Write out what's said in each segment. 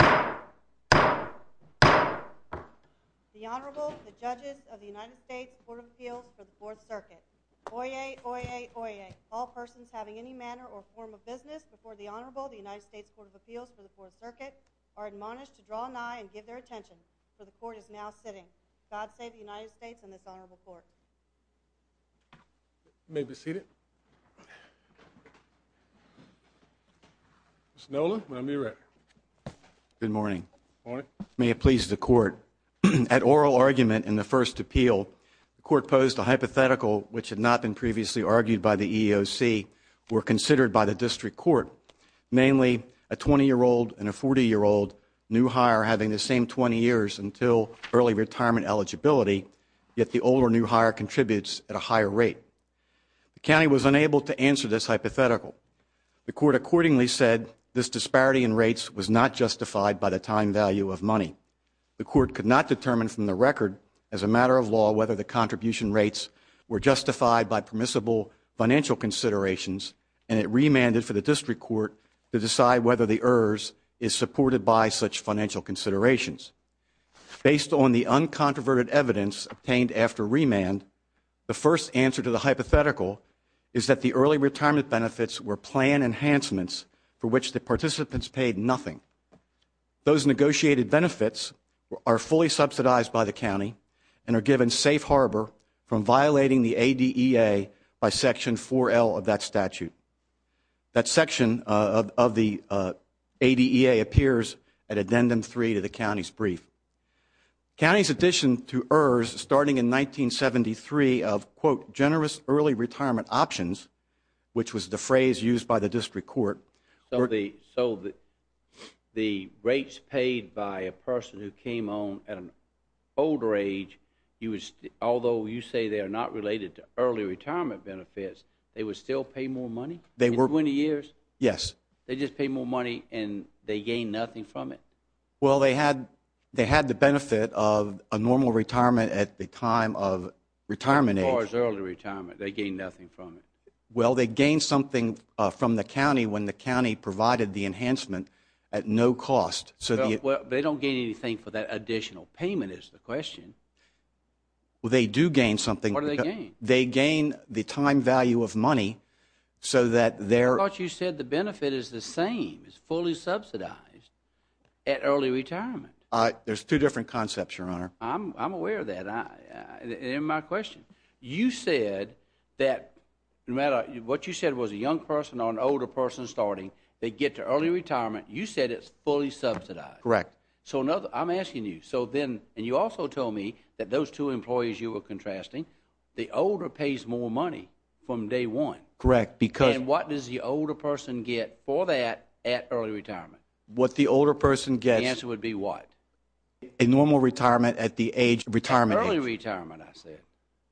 The Honorable, the Judges of the United States Court of Appeals for the Fourth Circuit. Oyez, oyez, oyez. All persons having any manner or form of business before the Honorable of the United States Court of Appeals for the Fourth Circuit are admonished to draw an eye and give their attention, for the Court is now sitting. God save the United States and this Honorable Court. You may be seated. Mr. Nolan, Miami Rec. Good morning. Morning. May it please the Court. At oral argument in the first appeal, the Court posed a hypothetical which had not been previously argued by the EEOC or considered by the District Court, namely a 20-year-old and a 40-year-old new hire having the same 20 years until early retirement eligibility, yet the older new hire contributes at a higher rate. The County was unable to answer this hypothetical. The Court accordingly said this disparity in rates was not justified by the time value of money. The Court could not determine from the record as a matter of law whether the contribution rates were justified by permissible financial considerations, and it remanded for the District Court to decide whether the ERRS is supported by such financial considerations. Based on the uncontroverted evidence obtained after remand, the first answer to the hypothetical is that the early retirement benefits were plan enhancements for which the participants paid nothing. Those negotiated benefits are fully subsidized by the County and are given safe harbor from violating the ADEA by Section 4L of that statute. That section of the ADEA appears at Addendum 3 to the County's brief. County's addition to ERRS starting in 1973 of, quote, generous early retirement options, which was the phrase used by the District Court. So the rates paid by a person who came on at an older age, although you say they are not related to early retirement benefits, they would still pay more money in 20 years? Yes. They just pay more money and they gain nothing from it? Well, they had the benefit of a normal retirement at the time of retirement age. As far as early retirement, they gain nothing from it? Well, they gain something from the County when the County provided the enhancement at no cost. Well, they don't gain anything for that additional payment is the question. Well, they do gain something. What do they gain? They gain the time value of money so that they're I thought you said the benefit is the same. It's fully subsidized at early retirement. There's two different concepts, Your Honor. I'm aware of that. In my question, you said that no matter what you said was a young person or an older person starting, they get to early retirement. You said it's fully subsidized. Correct. So I'm asking you. And you also told me that those two employees you were contrasting, the older pays more money from day one. Correct. And what does the older person get for that at early retirement? What the older person gets. The answer would be what? A normal retirement at the age, retirement age. Early retirement, I said.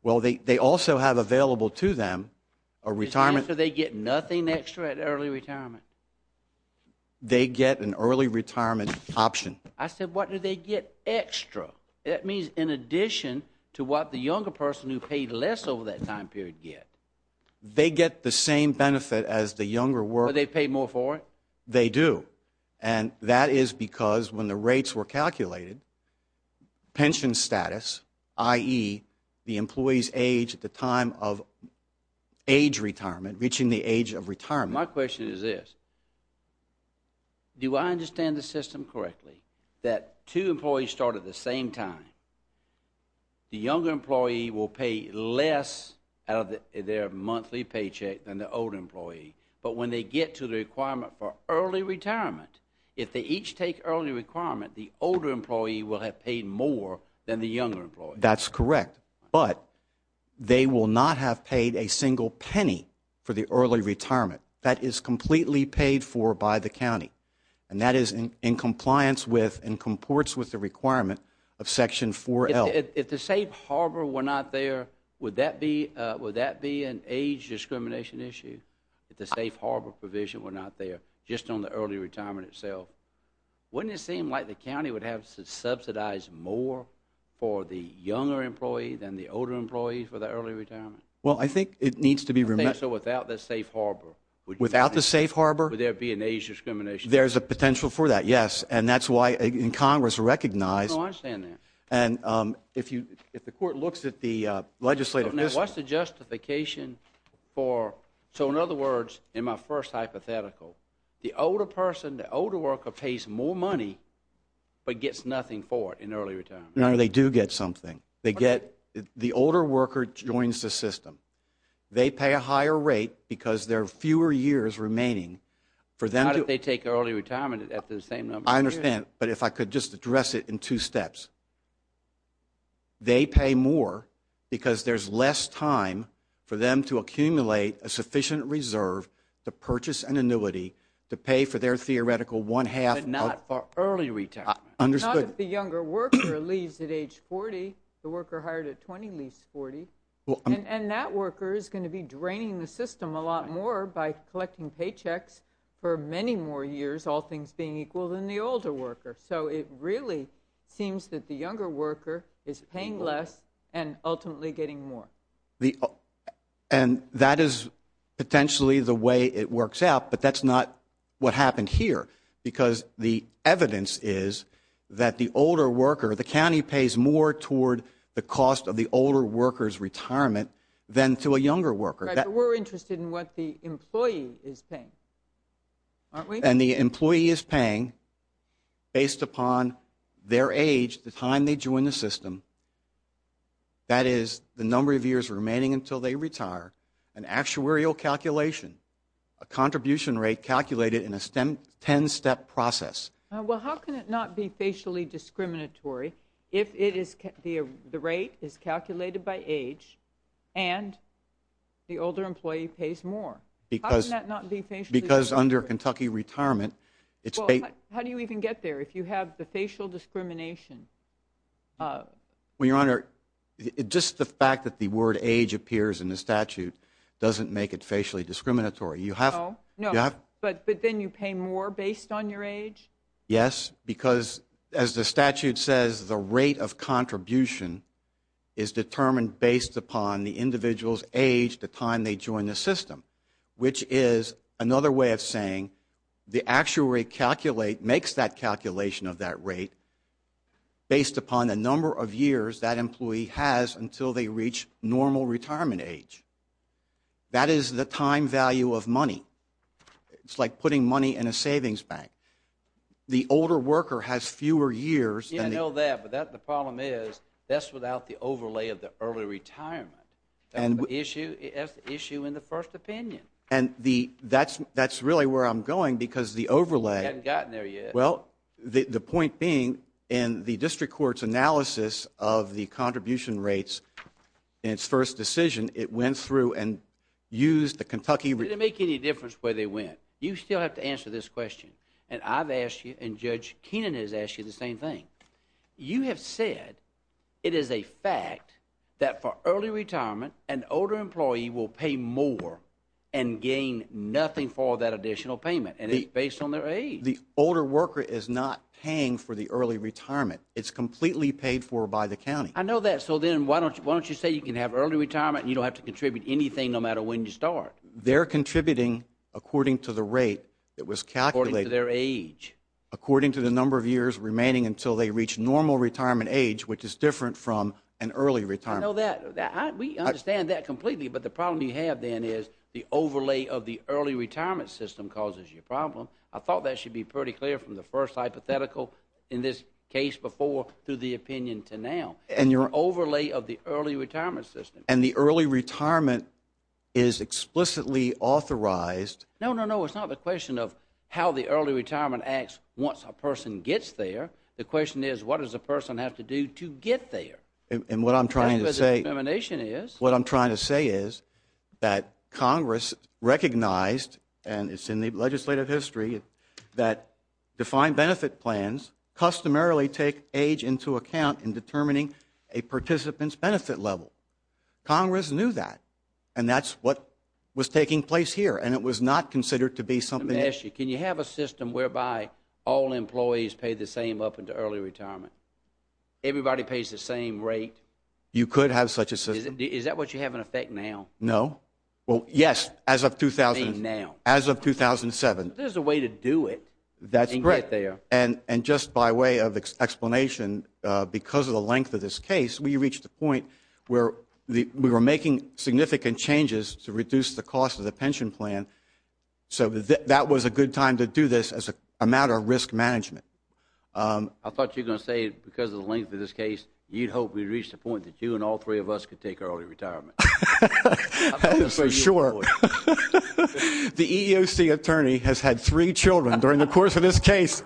Well, they also have available to them a retirement. So they get nothing extra at early retirement? They get an early retirement option. I said what do they get extra? That means in addition to what the younger person who paid less over that time period get. They get the same benefit as the younger worker. But they pay more for it? They do. And that is because when the rates were calculated, pension status, i.e., the employee's age at the time of age retirement, reaching the age of retirement. My question is this. Do I understand the system correctly that two employees start at the same time? The younger employee will pay less out of their monthly paycheck than the older employee. But when they get to the requirement for early retirement, if they each take early retirement, the older employee will have paid more than the younger employee. That's correct. But they will not have paid a single penny for the early retirement. That is completely paid for by the county. And that is in compliance with and comports with the requirement of Section 4L. If the safe harbor were not there, would that be an age discrimination issue? If the safe harbor provision were not there just on the early retirement itself, wouldn't it seem like the county would have to subsidize more for the younger employee than the older employee for the early retirement? Well, I think it needs to be remembered. There's a potential for that, yes, and that's why in Congress recognize No, I understand that. And if the court looks at the legislative system What's the justification for, so in other words, in my first hypothetical, the older person, the older worker pays more money but gets nothing for it in early retirement. No, they do get something. The older worker joins the system. They pay a higher rate because there are fewer years remaining for them to They take early retirement at the same number of years. I understand, but if I could just address it in two steps. They pay more because there's less time for them to accumulate a sufficient reserve to purchase an annuity to pay for their theoretical one-half But not for early retirement. Understood. Not if the younger worker leaves at age 40. The worker hired at 20 leaves 40. And that worker is going to be draining the system a lot more by collecting paychecks for many more years, all things being equal than the older worker. So it really seems that the younger worker is paying less and ultimately getting more. And that is potentially the way it works out, but that's not what happened here because the evidence is that the older worker, the county pays more toward the cost of the older worker's retirement than to a younger worker. We're interested in what the employee is paying, aren't we? And the employee is paying, based upon their age, the time they join the system, that is the number of years remaining until they retire, an actuarial calculation, a contribution rate calculated in a 10-step process. Well, how can it not be facially discriminatory if the rate is calculated by age and the older employee pays more? How can that not be facially discriminatory? Because under Kentucky retirement, it's paid. Well, how do you even get there if you have the facial discrimination? Well, Your Honor, just the fact that the word age appears in the statute doesn't make it facially discriminatory. No? No. But then you pay more based on your age? Yes, because as the statute says, the rate of contribution is determined based upon the individual's age, the time they join the system, which is another way of saying the actuary makes that calculation of that rate based upon the number of years that employee has until they reach normal retirement age. That is the time value of money. It's like putting money in a savings bank. The older worker has fewer years. Yes, I know that, but the problem is that's without the overlay of the early retirement. That's the issue in the first opinion. And that's really where I'm going because the overlay— You haven't gotten there yet. Well, the point being in the district court's analysis of the contribution rates in its first decision, it went through and used the Kentucky— Did it make any difference where they went? You still have to answer this question, and I've asked you and Judge Keenan has asked you the same thing. You have said it is a fact that for early retirement, an older employee will pay more and gain nothing for that additional payment, and it's based on their age. The older worker is not paying for the early retirement. It's completely paid for by the county. I know that. So then why don't you say you can have early retirement and you don't have to contribute anything no matter when you start? Well, they're contributing according to the rate that was calculated. According to their age. According to the number of years remaining until they reach normal retirement age, which is different from an early retirement. I know that. We understand that completely, but the problem you have then is the overlay of the early retirement system causes your problem. I thought that should be pretty clear from the first hypothetical in this case before through the opinion to now. The overlay of the early retirement system. And the early retirement is explicitly authorized. No, no, no. It's not the question of how the early retirement acts once a person gets there. The question is what does a person have to do to get there? And what I'm trying to say is that Congress recognized, and it's in the legislative history, that defined benefit plans customarily take age into account in determining a participant's benefit level. Congress knew that. And that's what was taking place here. And it was not considered to be something else. Can you have a system whereby all employees pay the same up into early retirement? Everybody pays the same rate. You could have such a system. Is that what you have in effect now? No. Well, yes, as of 2007. There's a way to do it and get there. And just by way of explanation, because of the length of this case, we reached the point where we were making significant changes to reduce the cost of the pension plan. So that was a good time to do this as a matter of risk management. I thought you were going to say because of the length of this case, you'd hope we'd reach the point that you and all three of us could take early retirement. That is for sure. The EEOC attorney has had three children during the course of this case.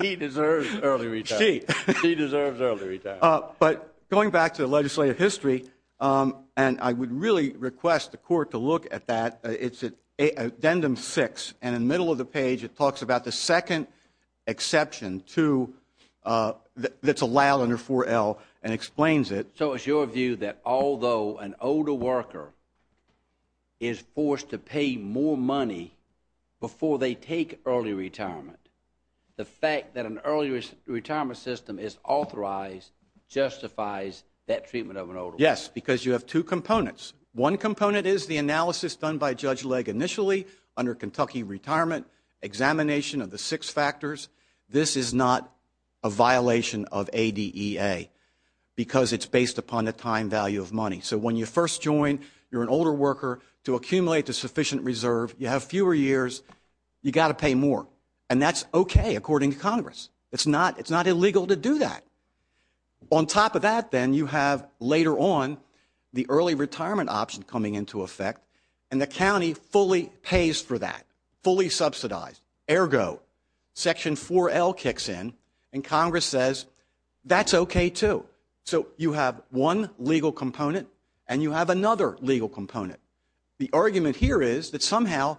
He deserves early retirement. She. She deserves early retirement. But going back to the legislative history, and I would really request the court to look at that. It's at Addendum 6, and in the middle of the page, it talks about the second exception that's allowed under 4L and explains it. So it's your view that although an older worker is forced to pay more money before they take early retirement, the fact that an early retirement system is authorized justifies that treatment of an older worker? Yes, because you have two components. One component is the analysis done by Judge Legg initially under Kentucky retirement, examination of the six factors. This is not a violation of ADEA because it's based upon the time value of money. So when you first join, you're an older worker to accumulate a sufficient reserve. You have fewer years. You've got to pay more, and that's okay according to Congress. It's not illegal to do that. On top of that, then, you have later on the early retirement option coming into effect, and the county fully pays for that, fully subsidized. Ergo, Section 4L kicks in, and Congress says, that's okay, too. So you have one legal component, and you have another legal component. The argument here is that somehow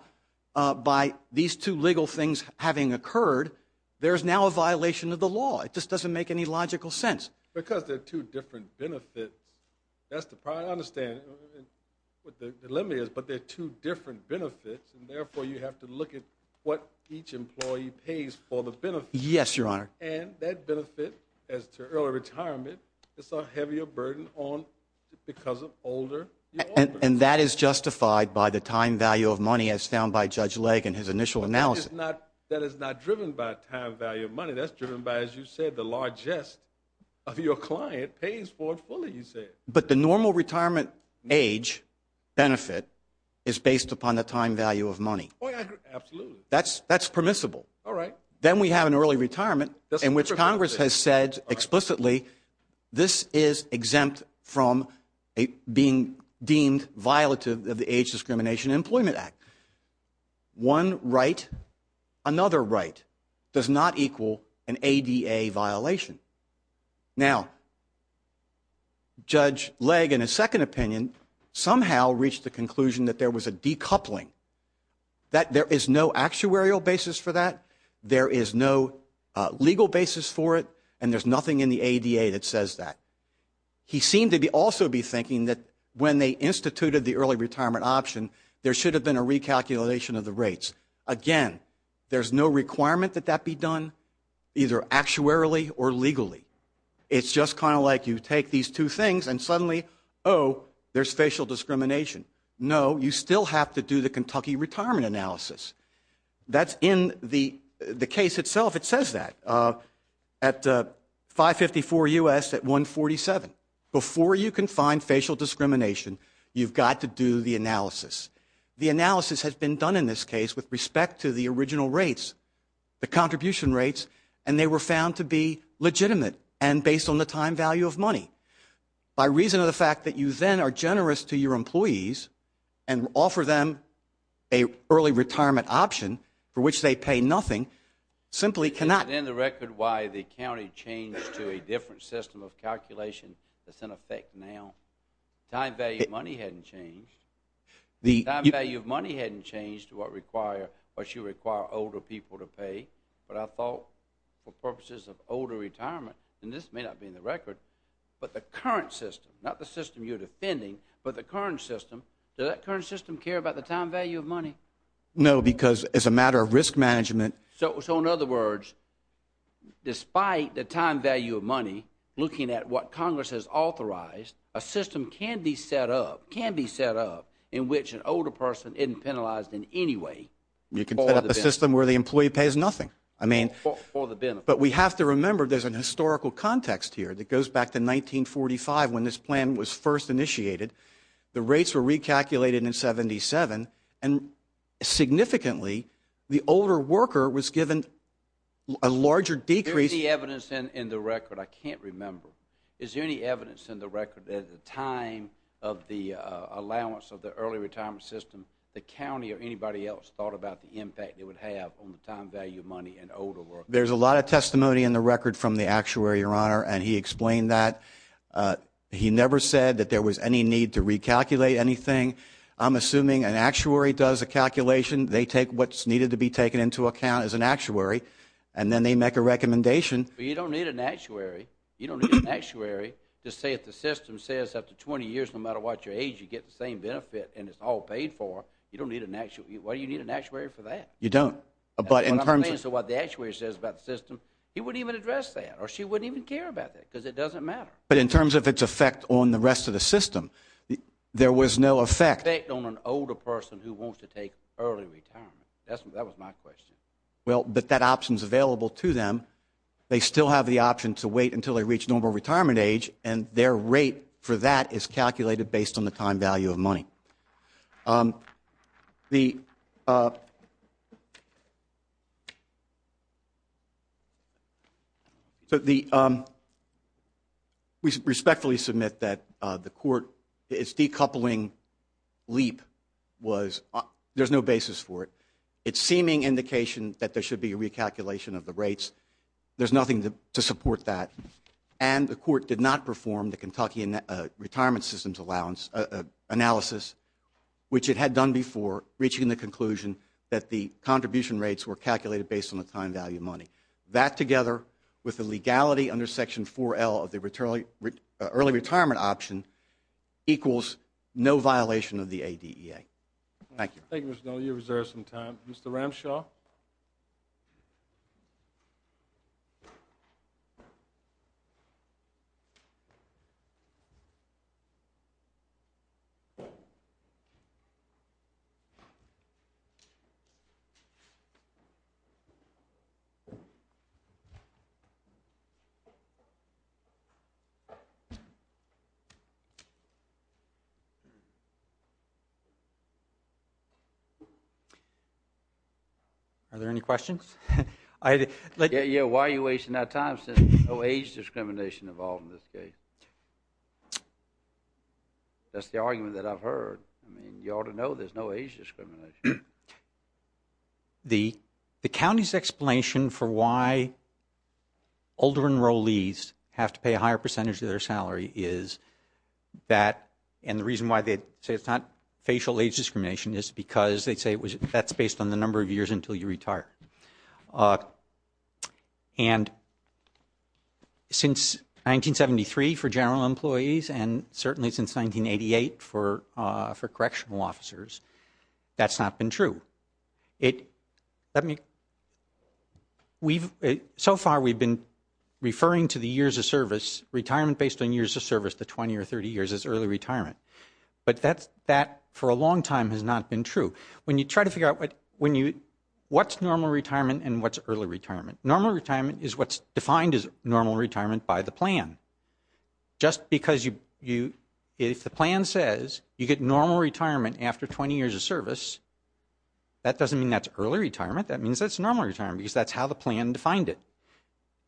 by these two legal things having occurred, there is now a violation of the law. It just doesn't make any logical sense. Because there are two different benefits. That's the problem. I understand what the dilemma is, but there are two different benefits, and therefore you have to look at what each employee pays for the benefit. Yes, Your Honor. And that benefit as to early retirement is a heavier burden because of older workers. And that is justified by the time value of money as found by Judge Legge in his initial analysis. That is not driven by time value of money. That's driven by, as you said, the largest of your client pays for it fully, you said. But the normal retirement age benefit is based upon the time value of money. Absolutely. That's permissible. All right. Then we have an early retirement in which Congress has said explicitly, this is exempt from being deemed violative of the Age Discrimination Employment Act. One right, another right does not equal an ADA violation. Now, Judge Legge in his second opinion somehow reached the conclusion that there was a decoupling, that there is no actuarial basis for that, there is no legal basis for it, and there's nothing in the ADA that says that. He seemed to also be thinking that when they instituted the early retirement option, there should have been a recalculation of the rates. Again, there's no requirement that that be done either actuarially or legally. It's just kind of like you take these two things and suddenly, oh, there's facial discrimination. No, you still have to do the Kentucky retirement analysis. That's in the case itself. It says that at 554 U.S. at 147. Before you can find facial discrimination, you've got to do the analysis. The analysis has been done in this case with respect to the original rates, the contribution rates, and they were found to be legitimate and based on the time value of money. By reason of the fact that you then are generous to your employees and offer them an early retirement option for which they pay nothing, simply cannot. Is it in the record why the county changed to a different system of calculation that's in effect now? Time value of money hadn't changed. Time value of money hadn't changed to what should require older people to pay, but I thought for purposes of older retirement, and this may not be in the record, but the current system, not the system you're defending, but the current system, does that current system care about the time value of money? No, because as a matter of risk management. So in other words, despite the time value of money, looking at what Congress has authorized, a system can be set up, can be set up, in which an older person isn't penalized in any way. You can set up a system where the employee pays nothing. I mean, but we have to remember there's an historical context here that goes back to 1945 when this plan was first initiated. The rates were recalculated in 77, and significantly, the older worker was given a larger decrease. Is there any evidence in the record? I can't remember. Is there any evidence in the record that at the time of the allowance of the early retirement system, the county or anybody else thought about the impact it would have on the time value of money and older workers? There's a lot of testimony in the record from the actuary, Your Honor, and he explained that. He never said that there was any need to recalculate anything. I'm assuming an actuary does a calculation. They take what's needed to be taken into account as an actuary, and then they make a recommendation. But you don't need an actuary. You don't need an actuary to say if the system says after 20 years, no matter what your age, you get the same benefit and it's all paid for. You don't need an actuary. Why do you need an actuary for that? You don't. But in terms of what the actuary says about the system, he wouldn't even address that, or she wouldn't even care about that because it doesn't matter. But in terms of its effect on the rest of the system, there was no effect. Effect on an older person who wants to take early retirement. That was my question. Well, but that option is available to them. They still have the option to wait until they reach normal retirement age, and their rate for that is calculated based on the time value of money. We respectfully submit that the court is decoupling LEAP. There's no basis for it. It's seeming indication that there should be a recalculation of the rates. There's nothing to support that. And the court did not perform the Kentucky Retirement System's analysis, which it had done before, reaching the conclusion that the contribution rates were calculated based on the time value of money. That together with the legality under Section 4L of the early retirement option equals no violation of the ADEA. Thank you. Thank you, Mr. Donnelly. You've reserved some time. Mr. Ramshaw? Are there any questions? Yeah, why are you wasting our time since there's no age discrimination involved in this case? That's the argument that I've heard. I mean, you ought to know there's no age discrimination. The county's explanation for why older enrollees have to pay a higher percentage of their salary is that, and the reason why they say it's not facial age discrimination is because they say that's based on the number of years until you retire. And since 1973 for general employees and certainly since 1988 for correctional officers, that's not been true. So far we've been referring to the years of service, retirement based on years of service, the 20 or 30 years as early retirement. But that for a long time has not been true. When you try to figure out what's normal retirement and what's early retirement, normal retirement is what's defined as normal retirement by the plan. Just because if the plan says you get normal retirement after 20 years of service, that doesn't mean that's early retirement. That means that's normal retirement because that's how the plan defined it.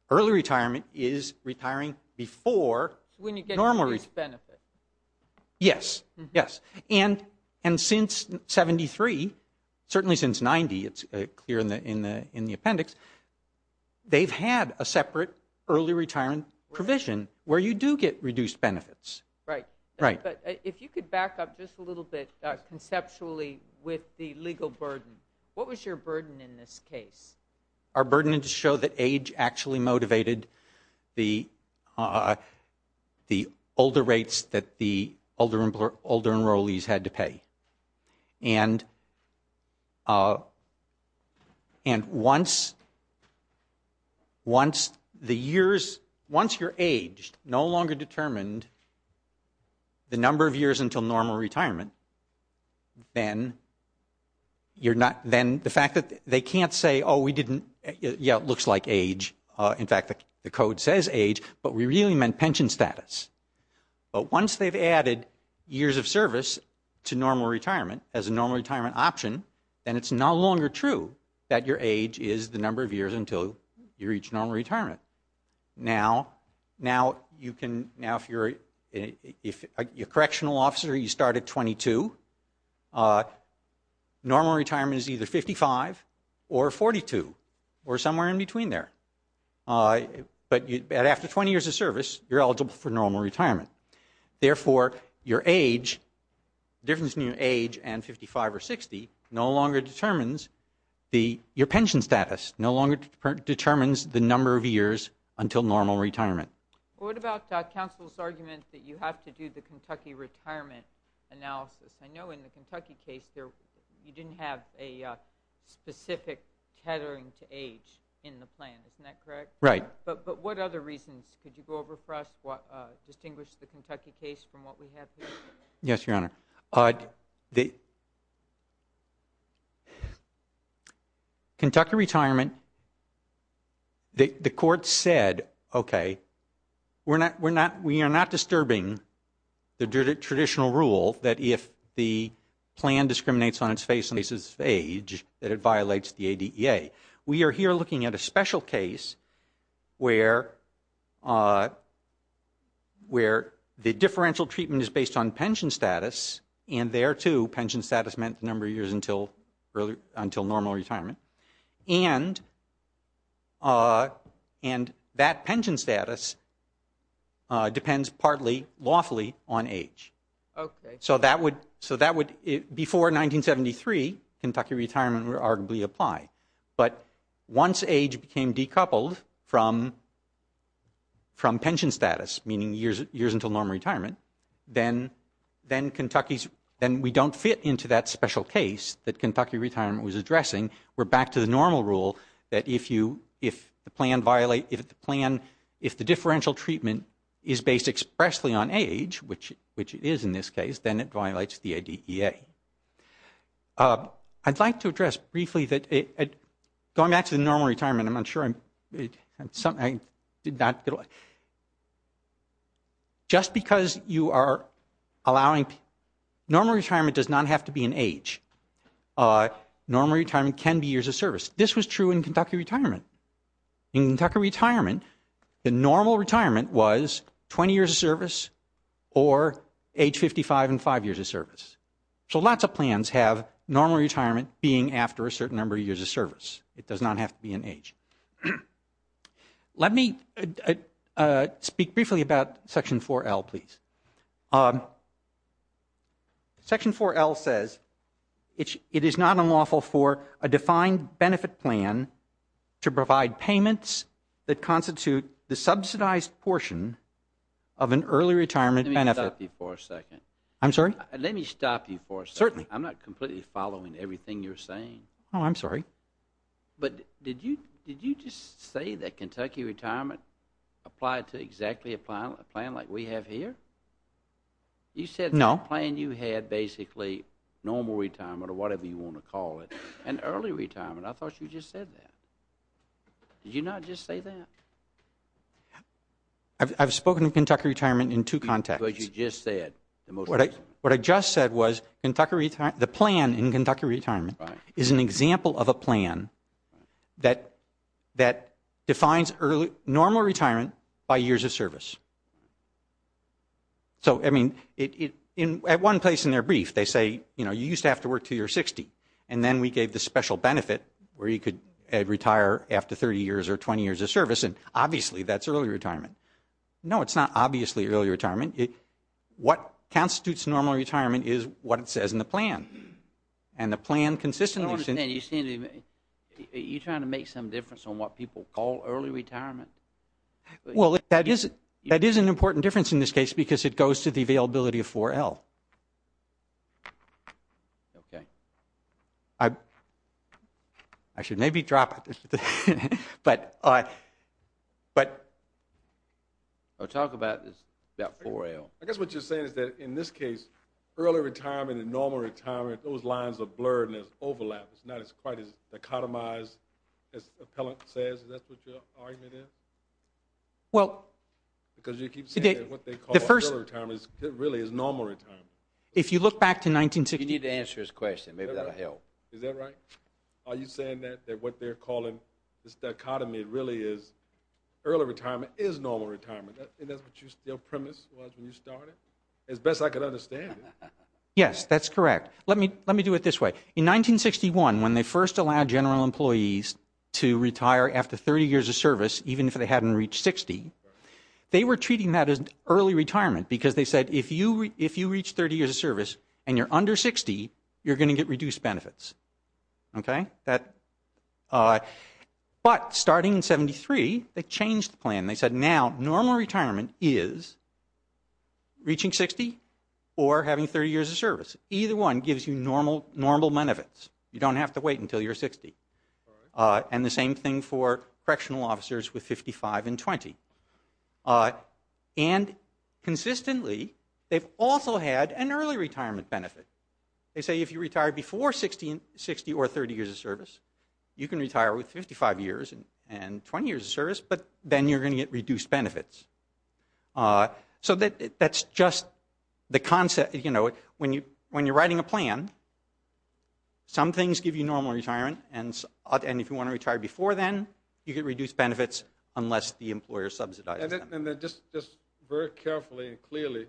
Early retirement is retiring before normal. When you get reduced benefit. Yes, yes. And since 1973, certainly since 1990, it's clear in the appendix, they've had a separate early retirement provision where you do get reduced benefits. Right. Right. But if you could back up just a little bit conceptually with the legal burden, what was your burden in this case? Our burden is to show that age actually motivated the older rates that the older enrollees had to pay. And once the years, once you're aged, no longer determined the number of years until normal retirement, then the fact that they can't say, oh, we didn't, yeah, it looks like age. In fact, the code says age, but we really meant pension status. But once they've added years of service to normal retirement as a normal retirement option, then it's no longer true that your age is the number of years until you reach normal retirement. Now, you can, now if you're a correctional officer, you start at 22, normal retirement is either 55 or 42 or somewhere in between there. But after 20 years of service, you're eligible for normal retirement. Therefore, your age, difference in your age and 55 or 60, no longer determines your pension status, no longer determines the number of years until normal retirement. What about counsel's argument that you have to do the Kentucky retirement analysis? I know in the Kentucky case you didn't have a specific tethering to age in the plan. Isn't that correct? Right. But what other reasons? Could you go over for us, distinguish the Kentucky case from what we have here? Yes, Your Honor. Kentucky retirement, the court said, okay, we're not, we're not, we're not disturbing the traditional rule that if the plan discriminates on its face and faces age, that it violates the ADEA. We are here looking at a special case where the differential treatment is based on pension status, and there, too, pension status meant the number of years until normal retirement. And that pension status depends partly lawfully on age. Okay. So that would, so that would, before 1973, Kentucky retirement would arguably apply. But once age became decoupled from pension status, meaning years until normal retirement, then Kentucky's, then we don't fit into that special case that Kentucky retirement was back to the normal rule that if you, if the plan violate, if the plan, if the differential treatment is based expressly on age, which it is in this case, then it violates the ADEA. I'd like to address briefly that going back to the normal retirement, I'm not sure I'm, I did not, just because you are allowing, normal retirement does not have to be in age. Normal retirement can be years of service. This was true in Kentucky retirement. In Kentucky retirement, the normal retirement was 20 years of service or age 55 and five years of service. So lots of plans have normal retirement being after a certain number of years of service. It does not have to be in age. Let me speak briefly about Section 4L, please. Section 4L says it is not unlawful for a defined benefit plan to provide payments that constitute the subsidized portion of an early retirement benefit. Let me stop you for a second. I'm sorry? Let me stop you for a second. Certainly. I'm not completely following everything you're saying. Oh, I'm sorry. But did you just say that Kentucky retirement applied to exactly a plan like we have here? You said the plan you had basically normal retirement or whatever you want to call it and early retirement. I thought you just said that. Did you not just say that? I've spoken of Kentucky retirement in two contexts. But you just said the most recent. What I just said was the plan in Kentucky retirement is an example of a plan that defines normal retirement by years of service. So, I mean, at one place in their brief they say, you know, you used to have to work until you were 60 and then we gave the special benefit where you could retire after 30 years or 20 years of service and obviously that's early retirement. No, it's not obviously early retirement. What constitutes normal retirement is what it says in the plan. And the plan consistently. I don't understand. Are you trying to make some difference on what people call early retirement? Well, that is an important difference in this case because it goes to the availability of 4L. Okay. I should maybe drop it. Talk about 4L. I guess what you're saying is that in this case early retirement and normal retirement, those lines are blurred and there's overlap. It's not quite as dichotomized as the appellant says. Is that what your argument is? Well. Because you keep saying what they call early retirement really is normal retirement. If you look back to 1960. You need to answer his question. Maybe that will help. Is that right? Are you saying that what they're calling the dichotomy really is early retirement is normal retirement? And that's what your premise was when you started? As best I could understand it. Yes. That's correct. Let me do it this way. In 1961, when they first allowed general employees to retire after 30 years of service, even if they hadn't reached 60, they were treating that as early retirement because they said if you reach 30 years of service and you're under 60, you're going to get reduced benefits. Okay. But starting in 73, they changed the plan. They said now normal retirement is reaching 60 or having 30 years of service. Either one gives you normal benefits. You don't have to wait until you're 60. And the same thing for correctional officers with 55 and 20. And consistently, they've also had an early retirement benefit. They say if you retire before 60 or 30 years of service, you can retire with 55 years and 20 years of service, but then you're going to get reduced benefits. So that's just the concept. You know, when you're writing a plan, some things give you normal retirement, and if you want to retire before then, you get reduced benefits unless the employer subsidizes them. Just very carefully and clearly,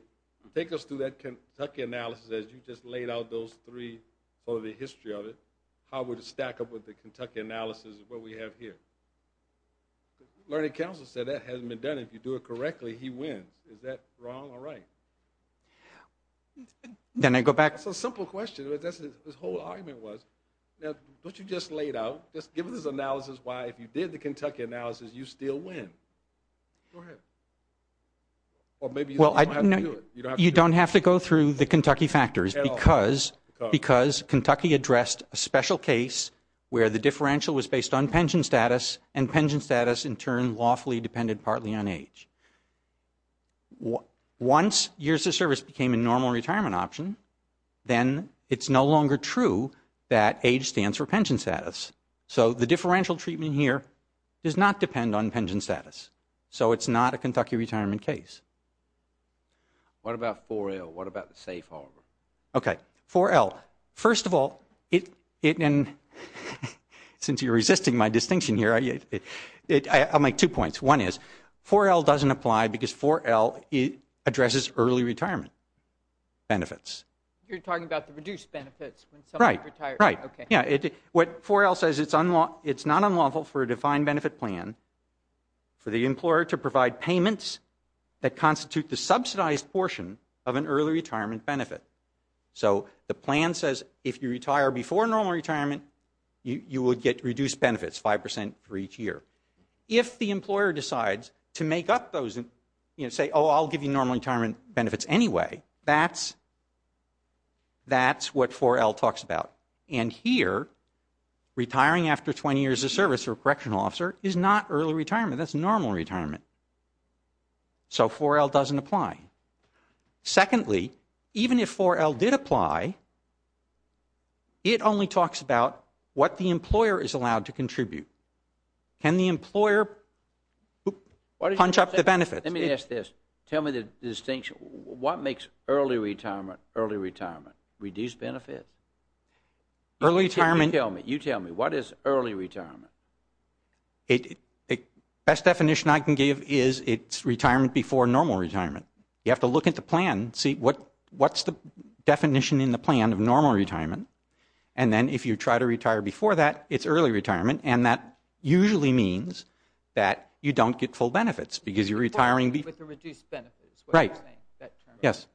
take us through that Kentucky analysis as you just laid out those three for the history of it. How would it stack up with the Kentucky analysis of what we have here? Learning Council said that hasn't been done. If you do it correctly, he wins. Is that wrong or right? Can I go back? It's a simple question. That's what this whole argument was. Now, don't you just lay it out? Just give us an analysis why if you did the Kentucky analysis, you still win. Go ahead. Or maybe you don't have to do it. Because Kentucky addressed a special case where the differential was based on pension status and pension status in turn lawfully depended partly on age. Once years of service became a normal retirement option, then it's no longer true that age stands for pension status. So the differential treatment here does not depend on pension status. So it's not a Kentucky retirement case. What about 4L? What about the safe harbor? Okay, 4L. First of all, since you're resisting my distinction here, I'll make two points. One is 4L doesn't apply because 4L addresses early retirement benefits. You're talking about the reduced benefits when someone retires. Right, right. What 4L says, it's not unlawful for a defined benefit plan for the employer to provide payments that constitute the subsidized portion of an early retirement benefit. So the plan says if you retire before normal retirement, you will get reduced benefits, 5% for each year. If the employer decides to make up those and say, oh, I'll give you normal retirement benefits anyway, that's what 4L talks about. And here, retiring after 20 years of service or correctional officer is not early retirement. That's normal retirement. So 4L doesn't apply. Secondly, even if 4L did apply, it only talks about what the employer is allowed to contribute. Can the employer punch up the benefits? Let me ask this. Tell me the distinction. What makes early retirement early retirement? Reduced benefits? Early retirement. You tell me. You tell me. What is early retirement? Best definition I can give is it's retirement before normal retirement. You have to look at the plan, see what's the definition in the plan of normal retirement, and then if you try to retire before that, it's early retirement, and that usually means that you don't get full benefits because you're retiring before. With the reduced benefits. Right. Yes.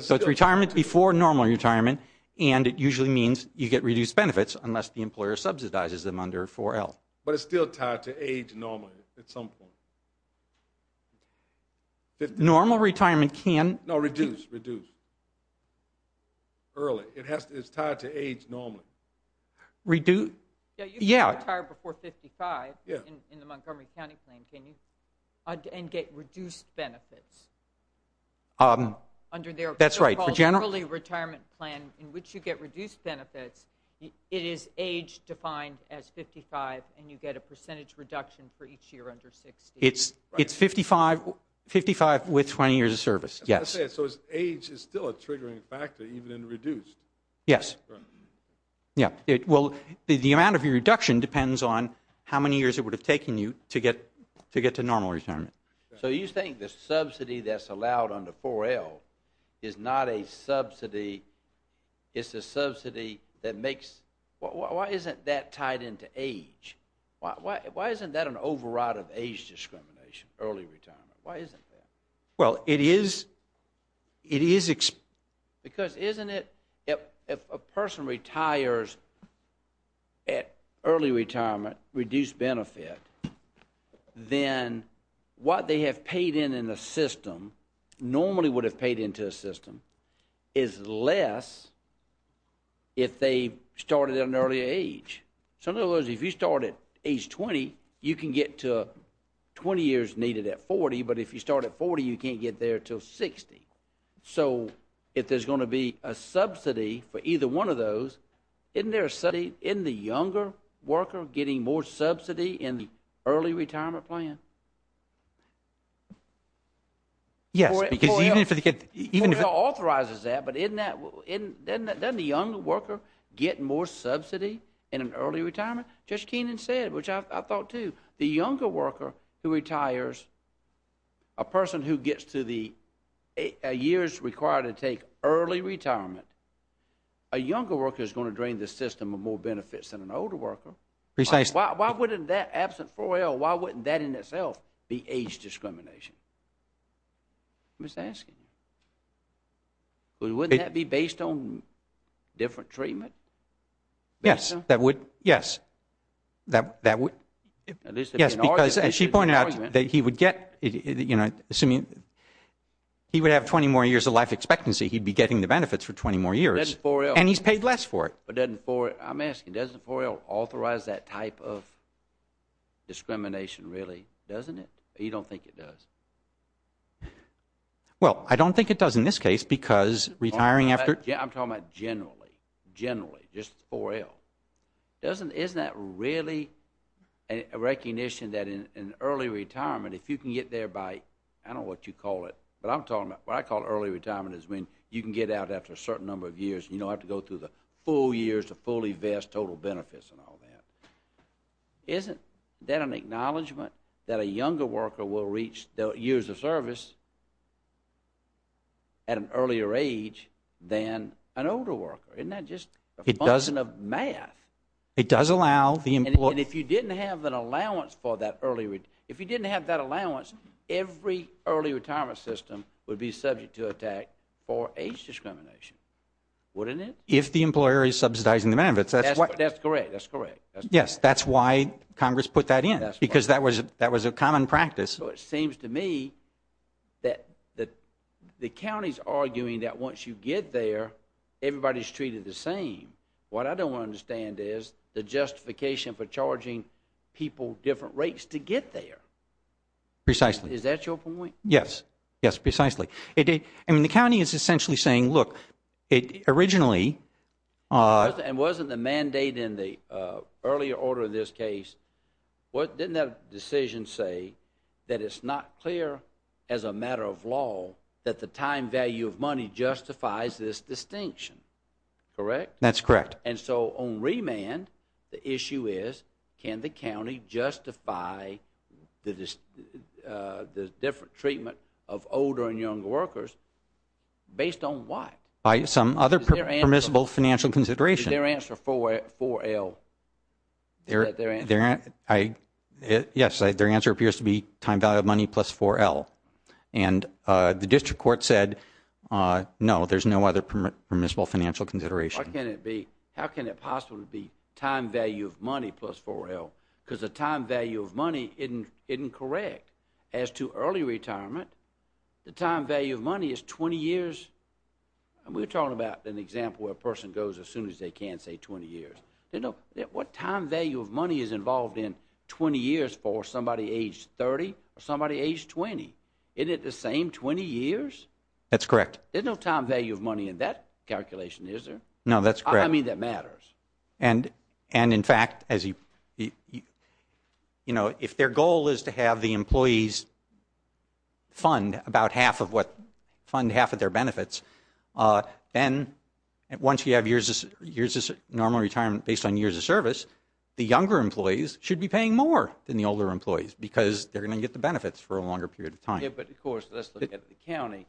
So it's retirement before normal retirement, and it usually means you get reduced benefits unless the employer subsidizes them under 4L. But it's still tied to age normally at some point. Normal retirement can. No, reduce. Reduce. Early. It's tied to age normally. Reduce. Yeah. You can retire before 55 in the Montgomery County plan, and get reduced benefits. That's right. The so-called early retirement plan in which you get reduced benefits, it is age defined as 55, and you get a percentage reduction for each year under 60. It's 55 with 20 years of service. Yes. So age is still a triggering factor even in reduced. Yes. Right. Yeah. Well, the amount of your reduction depends on how many years it would have taken you to get to normal retirement. So you think the subsidy that's allowed under 4L is not a subsidy. It's a subsidy that makes. Why isn't that tied into age? Why isn't that an override of age discrimination, early retirement? Why isn't that? Well, it is. Because isn't it if a person retires at early retirement, reduced benefit, then what they have paid in in the system normally would have paid into the system is less if they started at an earlier age. In other words, if you start at age 20, you can get to 20 years needed at 40, but if you start at 40, you can't get there until 60. So if there's going to be a subsidy for either one of those, isn't there a subsidy in the younger worker getting more subsidy in the early retirement plan? Yes. 4L authorizes that, but doesn't the younger worker get more subsidy in an early retirement? Judge Keenan said, which I thought too, the younger worker who retires, a person who gets to the years required to take early retirement, a younger worker is going to drain the system of more benefits than an older worker. Precisely. Why wouldn't that, absent 4L, why wouldn't that in itself be age discrimination? I'm just asking. Wouldn't that be based on different treatment? Yes, that would. Yes, because as she pointed out, he would have 20 more years of life expectancy. He'd be getting the benefits for 20 more years, and he's paid less for it. I'm asking, doesn't 4L authorize that type of discrimination really, doesn't it? You don't think it does? Well, I don't think it does in this case because retiring after I'm talking about generally, just 4L. Isn't that really a recognition that in early retirement if you can get there by, I don't know what you call it, but what I call early retirement is when you can get out after a certain number of years and you don't have to go through the full years to fully vest total benefits and all that. Isn't that an acknowledgment that a younger worker will reach the years of service at an earlier age than an older worker? Isn't that just a function of math? It does allow the employer. And if you didn't have an allowance for that early, if you didn't have that allowance, every early retirement system would be subject to attack for age discrimination, wouldn't it? If the employer is subsidizing the benefits. That's correct, that's correct. Yes, that's why Congress put that in because that was a common practice. So it seems to me that the county's arguing that once you get there, everybody's treated the same. What I don't understand is the justification for charging people different rates to get there. Precisely. Is that your point? Yes, yes, precisely. I mean, the county is essentially saying, look, it originally And wasn't the mandate in the earlier order of this case, didn't that decision say that it's not clear as a matter of law that the time value of money justifies this distinction? Correct? That's correct. And so on remand, the issue is can the county justify the different treatment of older and younger workers based on what? By some other permissible financial consideration. Is their answer 4L? Is that their answer? Yes, their answer appears to be time value of money plus 4L. And the district court said no, there's no other permissible financial consideration. How can it possibly be time value of money plus 4L? Because the time value of money isn't correct. As to early retirement, the time value of money is 20 years. We're talking about an example where a person goes as soon as they can, say, 20 years. What time value of money is involved in 20 years for somebody age 30 or somebody age 20? Isn't it the same 20 years? That's correct. There's no time value of money in that calculation, is there? No, that's correct. I mean, that matters. And, in fact, if their goal is to have the employees fund about half of their benefits, then once you have years of normal retirement based on years of service, the younger employees should be paying more than the older employees because they're going to get the benefits for a longer period of time. But, of course, let's look at the county,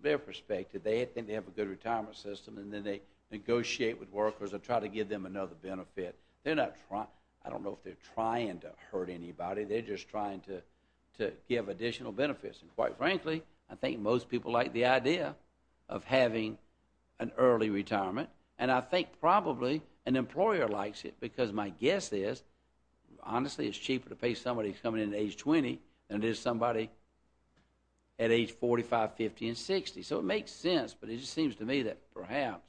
their perspective. They have a good retirement system and then they negotiate with workers or try to give them another benefit. I don't know if they're trying to hurt anybody. They're just trying to give additional benefits. And, quite frankly, I think most people like the idea of having an early retirement. And I think probably an employer likes it because my guess is, honestly, it's cheaper to pay somebody who's coming in at age 20 than it is somebody at age 45, 50, and 60. So it makes sense, but it just seems to me that perhaps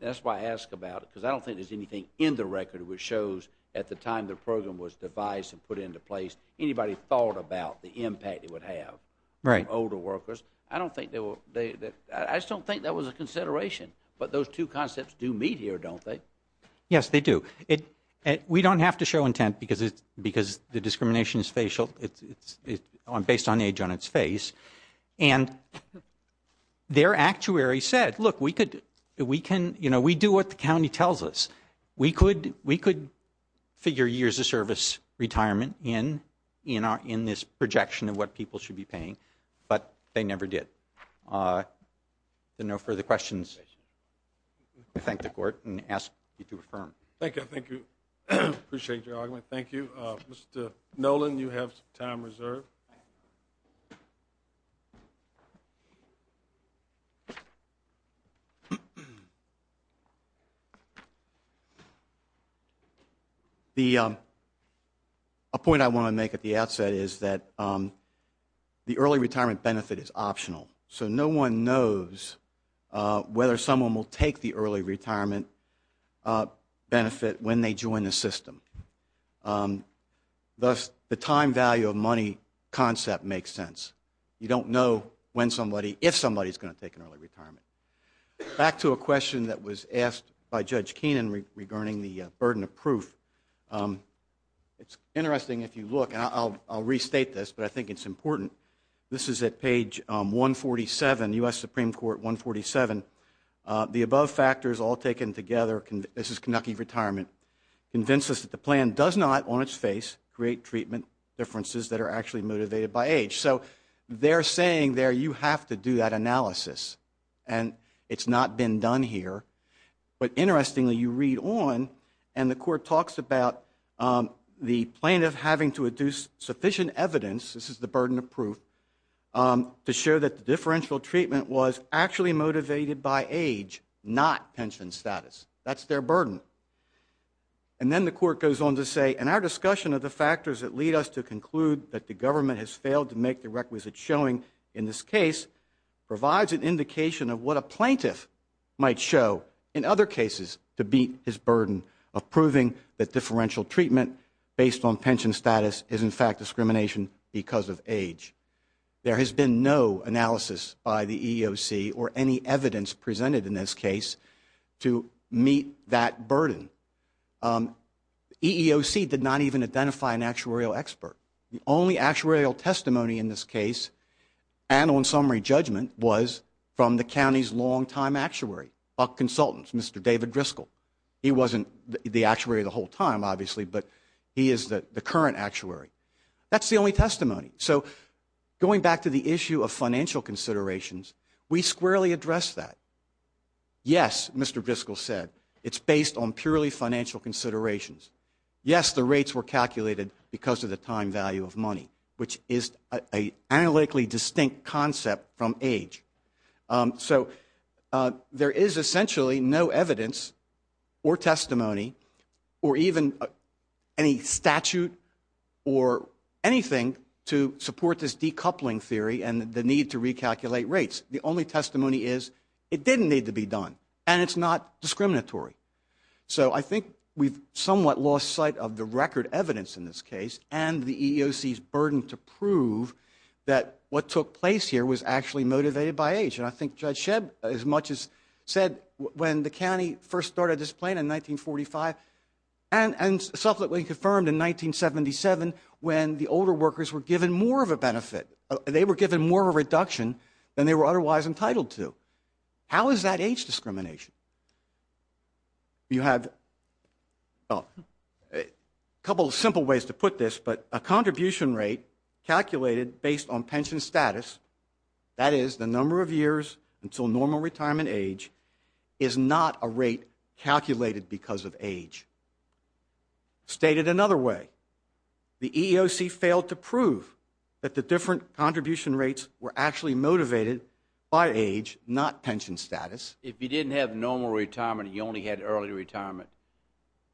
that's why I ask about it because I don't think there's anything in the record which shows, at the time the program was devised and put into place, anybody thought about the impact it would have on older workers. I just don't think that was a consideration. But those two concepts do meet here, don't they? Yes, they do. We don't have to show intent because the discrimination is based on age on its face. And their actuary said, look, we do what the county tells us. We could figure years of service retirement in this projection of what people should be paying, but they never did. Then no further questions. I thank the Court and ask you to affirm. Thank you. I appreciate your argument. Thank you. Mr. Nolan, you have some time reserved. A point I want to make at the outset is that the early retirement benefit is optional. So no one knows whether someone will take the early retirement benefit when they join the system. The time value of money concept makes sense. You don't know if somebody is going to take an early retirement. Back to a question that was asked by Judge Keenan regarding the burden of proof. It's interesting if you look, and I'll restate this, but I think it's important. This is at page 147, U.S. Supreme Court 147. The above factors all taken together, this is Kentucky retirement, convince us that the plan does not, on its face, create treatment differences that are actually motivated by age. So they're saying there you have to do that analysis, and it's not been done here. But interestingly, you read on, and the Court talks about the plaintiff having to adduce sufficient evidence. This is the burden of proof. To show that the differential treatment was actually motivated by age, not pension status. That's their burden. And then the Court goes on to say, in our discussion of the factors that lead us to conclude that the government has failed to make the requisite showing in this case, provides an indication of what a plaintiff might show in other cases to beat his burden of proving that differential treatment based on pension status is, in fact, discrimination because of age. There has been no analysis by the EEOC or any evidence presented in this case to meet that burden. The EEOC did not even identify an actuarial expert. The only actuarial testimony in this case, and on summary judgment, was from the county's longtime actuary, Buck Consultants, Mr. David Driscoll. He wasn't the actuary the whole time, obviously, but he is the current actuary. That's the only testimony. So going back to the issue of financial considerations, we squarely address that. Yes, Mr. Driscoll said, it's based on purely financial considerations. Yes, the rates were calculated because of the time value of money, which is an analytically distinct concept from age. So there is essentially no evidence or testimony or even any statute or anything to support this decoupling theory and the need to recalculate rates. The only testimony is it didn't need to be done, and it's not discriminatory. So I think we've somewhat lost sight of the record evidence in this case and the EEOC's burden to prove that what took place here was actually motivated by age. And I think Judge Shebb, as much as said when the county first started this plan in 1945 and subsequently confirmed in 1977 when the older workers were given more of a benefit, they were given more of a reduction than they were otherwise entitled to. How is that age discrimination? You have a couple of simple ways to put this, but a contribution rate calculated based on pension status, that is the number of years until normal retirement age, is not a rate calculated because of age. Stated another way, the EEOC failed to prove that the different contribution rates were actually motivated by age, not pension status. If you didn't have normal retirement and you only had early retirement,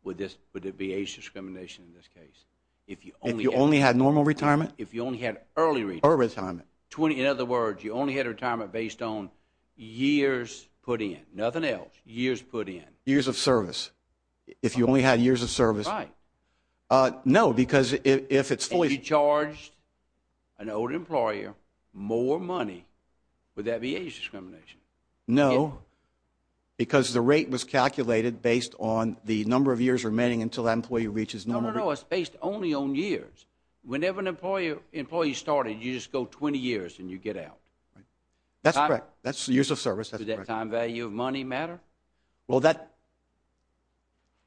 would it be age discrimination in this case? If you only had normal retirement? If you only had early retirement. In other words, you only had retirement based on years put in, nothing else. Years put in. Years of service. If you only had years of service. Right. No, because if it's fully... If you charged an older employer more money, would that be age discrimination? No, because the rate was calculated based on the number of years remaining until that employee reaches normal... No, no, no. It's based only on years. Whenever an employee started, you just go 20 years and you get out. That's correct. That's years of service. Does that time value of money matter? Well, that...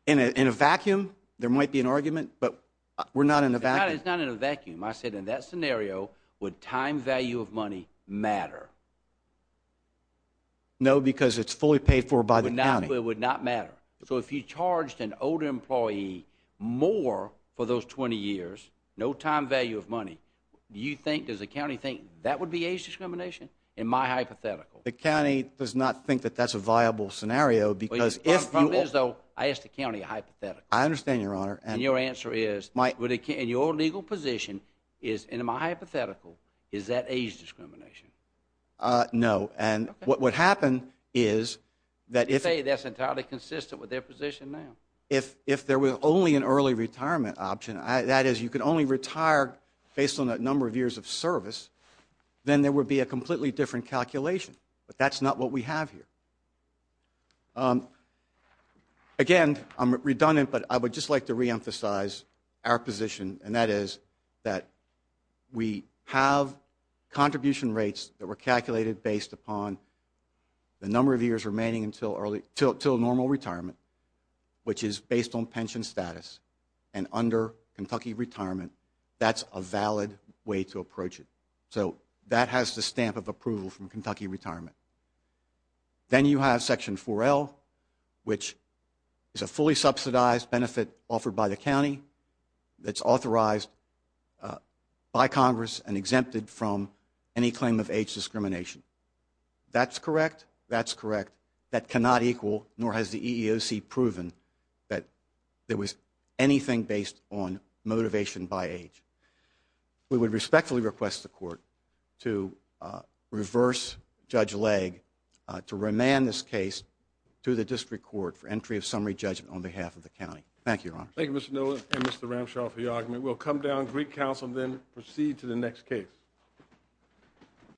In a vacuum, there might be an argument, but we're not in a vacuum. It's not in a vacuum. I said in that scenario, would time value of money matter? No, because it's fully paid for by the county. It would not matter. So if you charged an older employee more for those 20 years, no time value of money, do you think, does the county think that would be age discrimination? In my hypothetical. The county does not think that that's a viable scenario because if you... I asked the county a hypothetical. I understand, Your Honor. And your answer is, in your legal position is, in my hypothetical, is that age discrimination? No. And what would happen is that if... You say that's entirely consistent with their position now. If there was only an early retirement option, that is, you could only retire based on that number of years of service, then there would be a completely different calculation. But that's not what we have here. Again, I'm redundant, but I would just like to reemphasize our position, and that is that we have contribution rates that were calculated based upon the number of years remaining until normal retirement, which is based on pension status. And under Kentucky retirement, that's a valid way to approach it. So that has the stamp of approval from Kentucky retirement. Then you have Section 4L, which is a fully subsidized benefit offered by the county that's authorized by Congress and exempted from any claim of age discrimination. That's correct. That's correct. That cannot equal, nor has the EEOC proven, that there was anything based on motivation by age. We would respectfully request the court to reverse Judge Legge to remand this case to the district court for entry of summary judgment on behalf of the county. Thank you, Your Honor. Thank you, Mr. Miller and Mr. Ramshaw, for your argument. We'll come down to Greek Council and then proceed to the next case.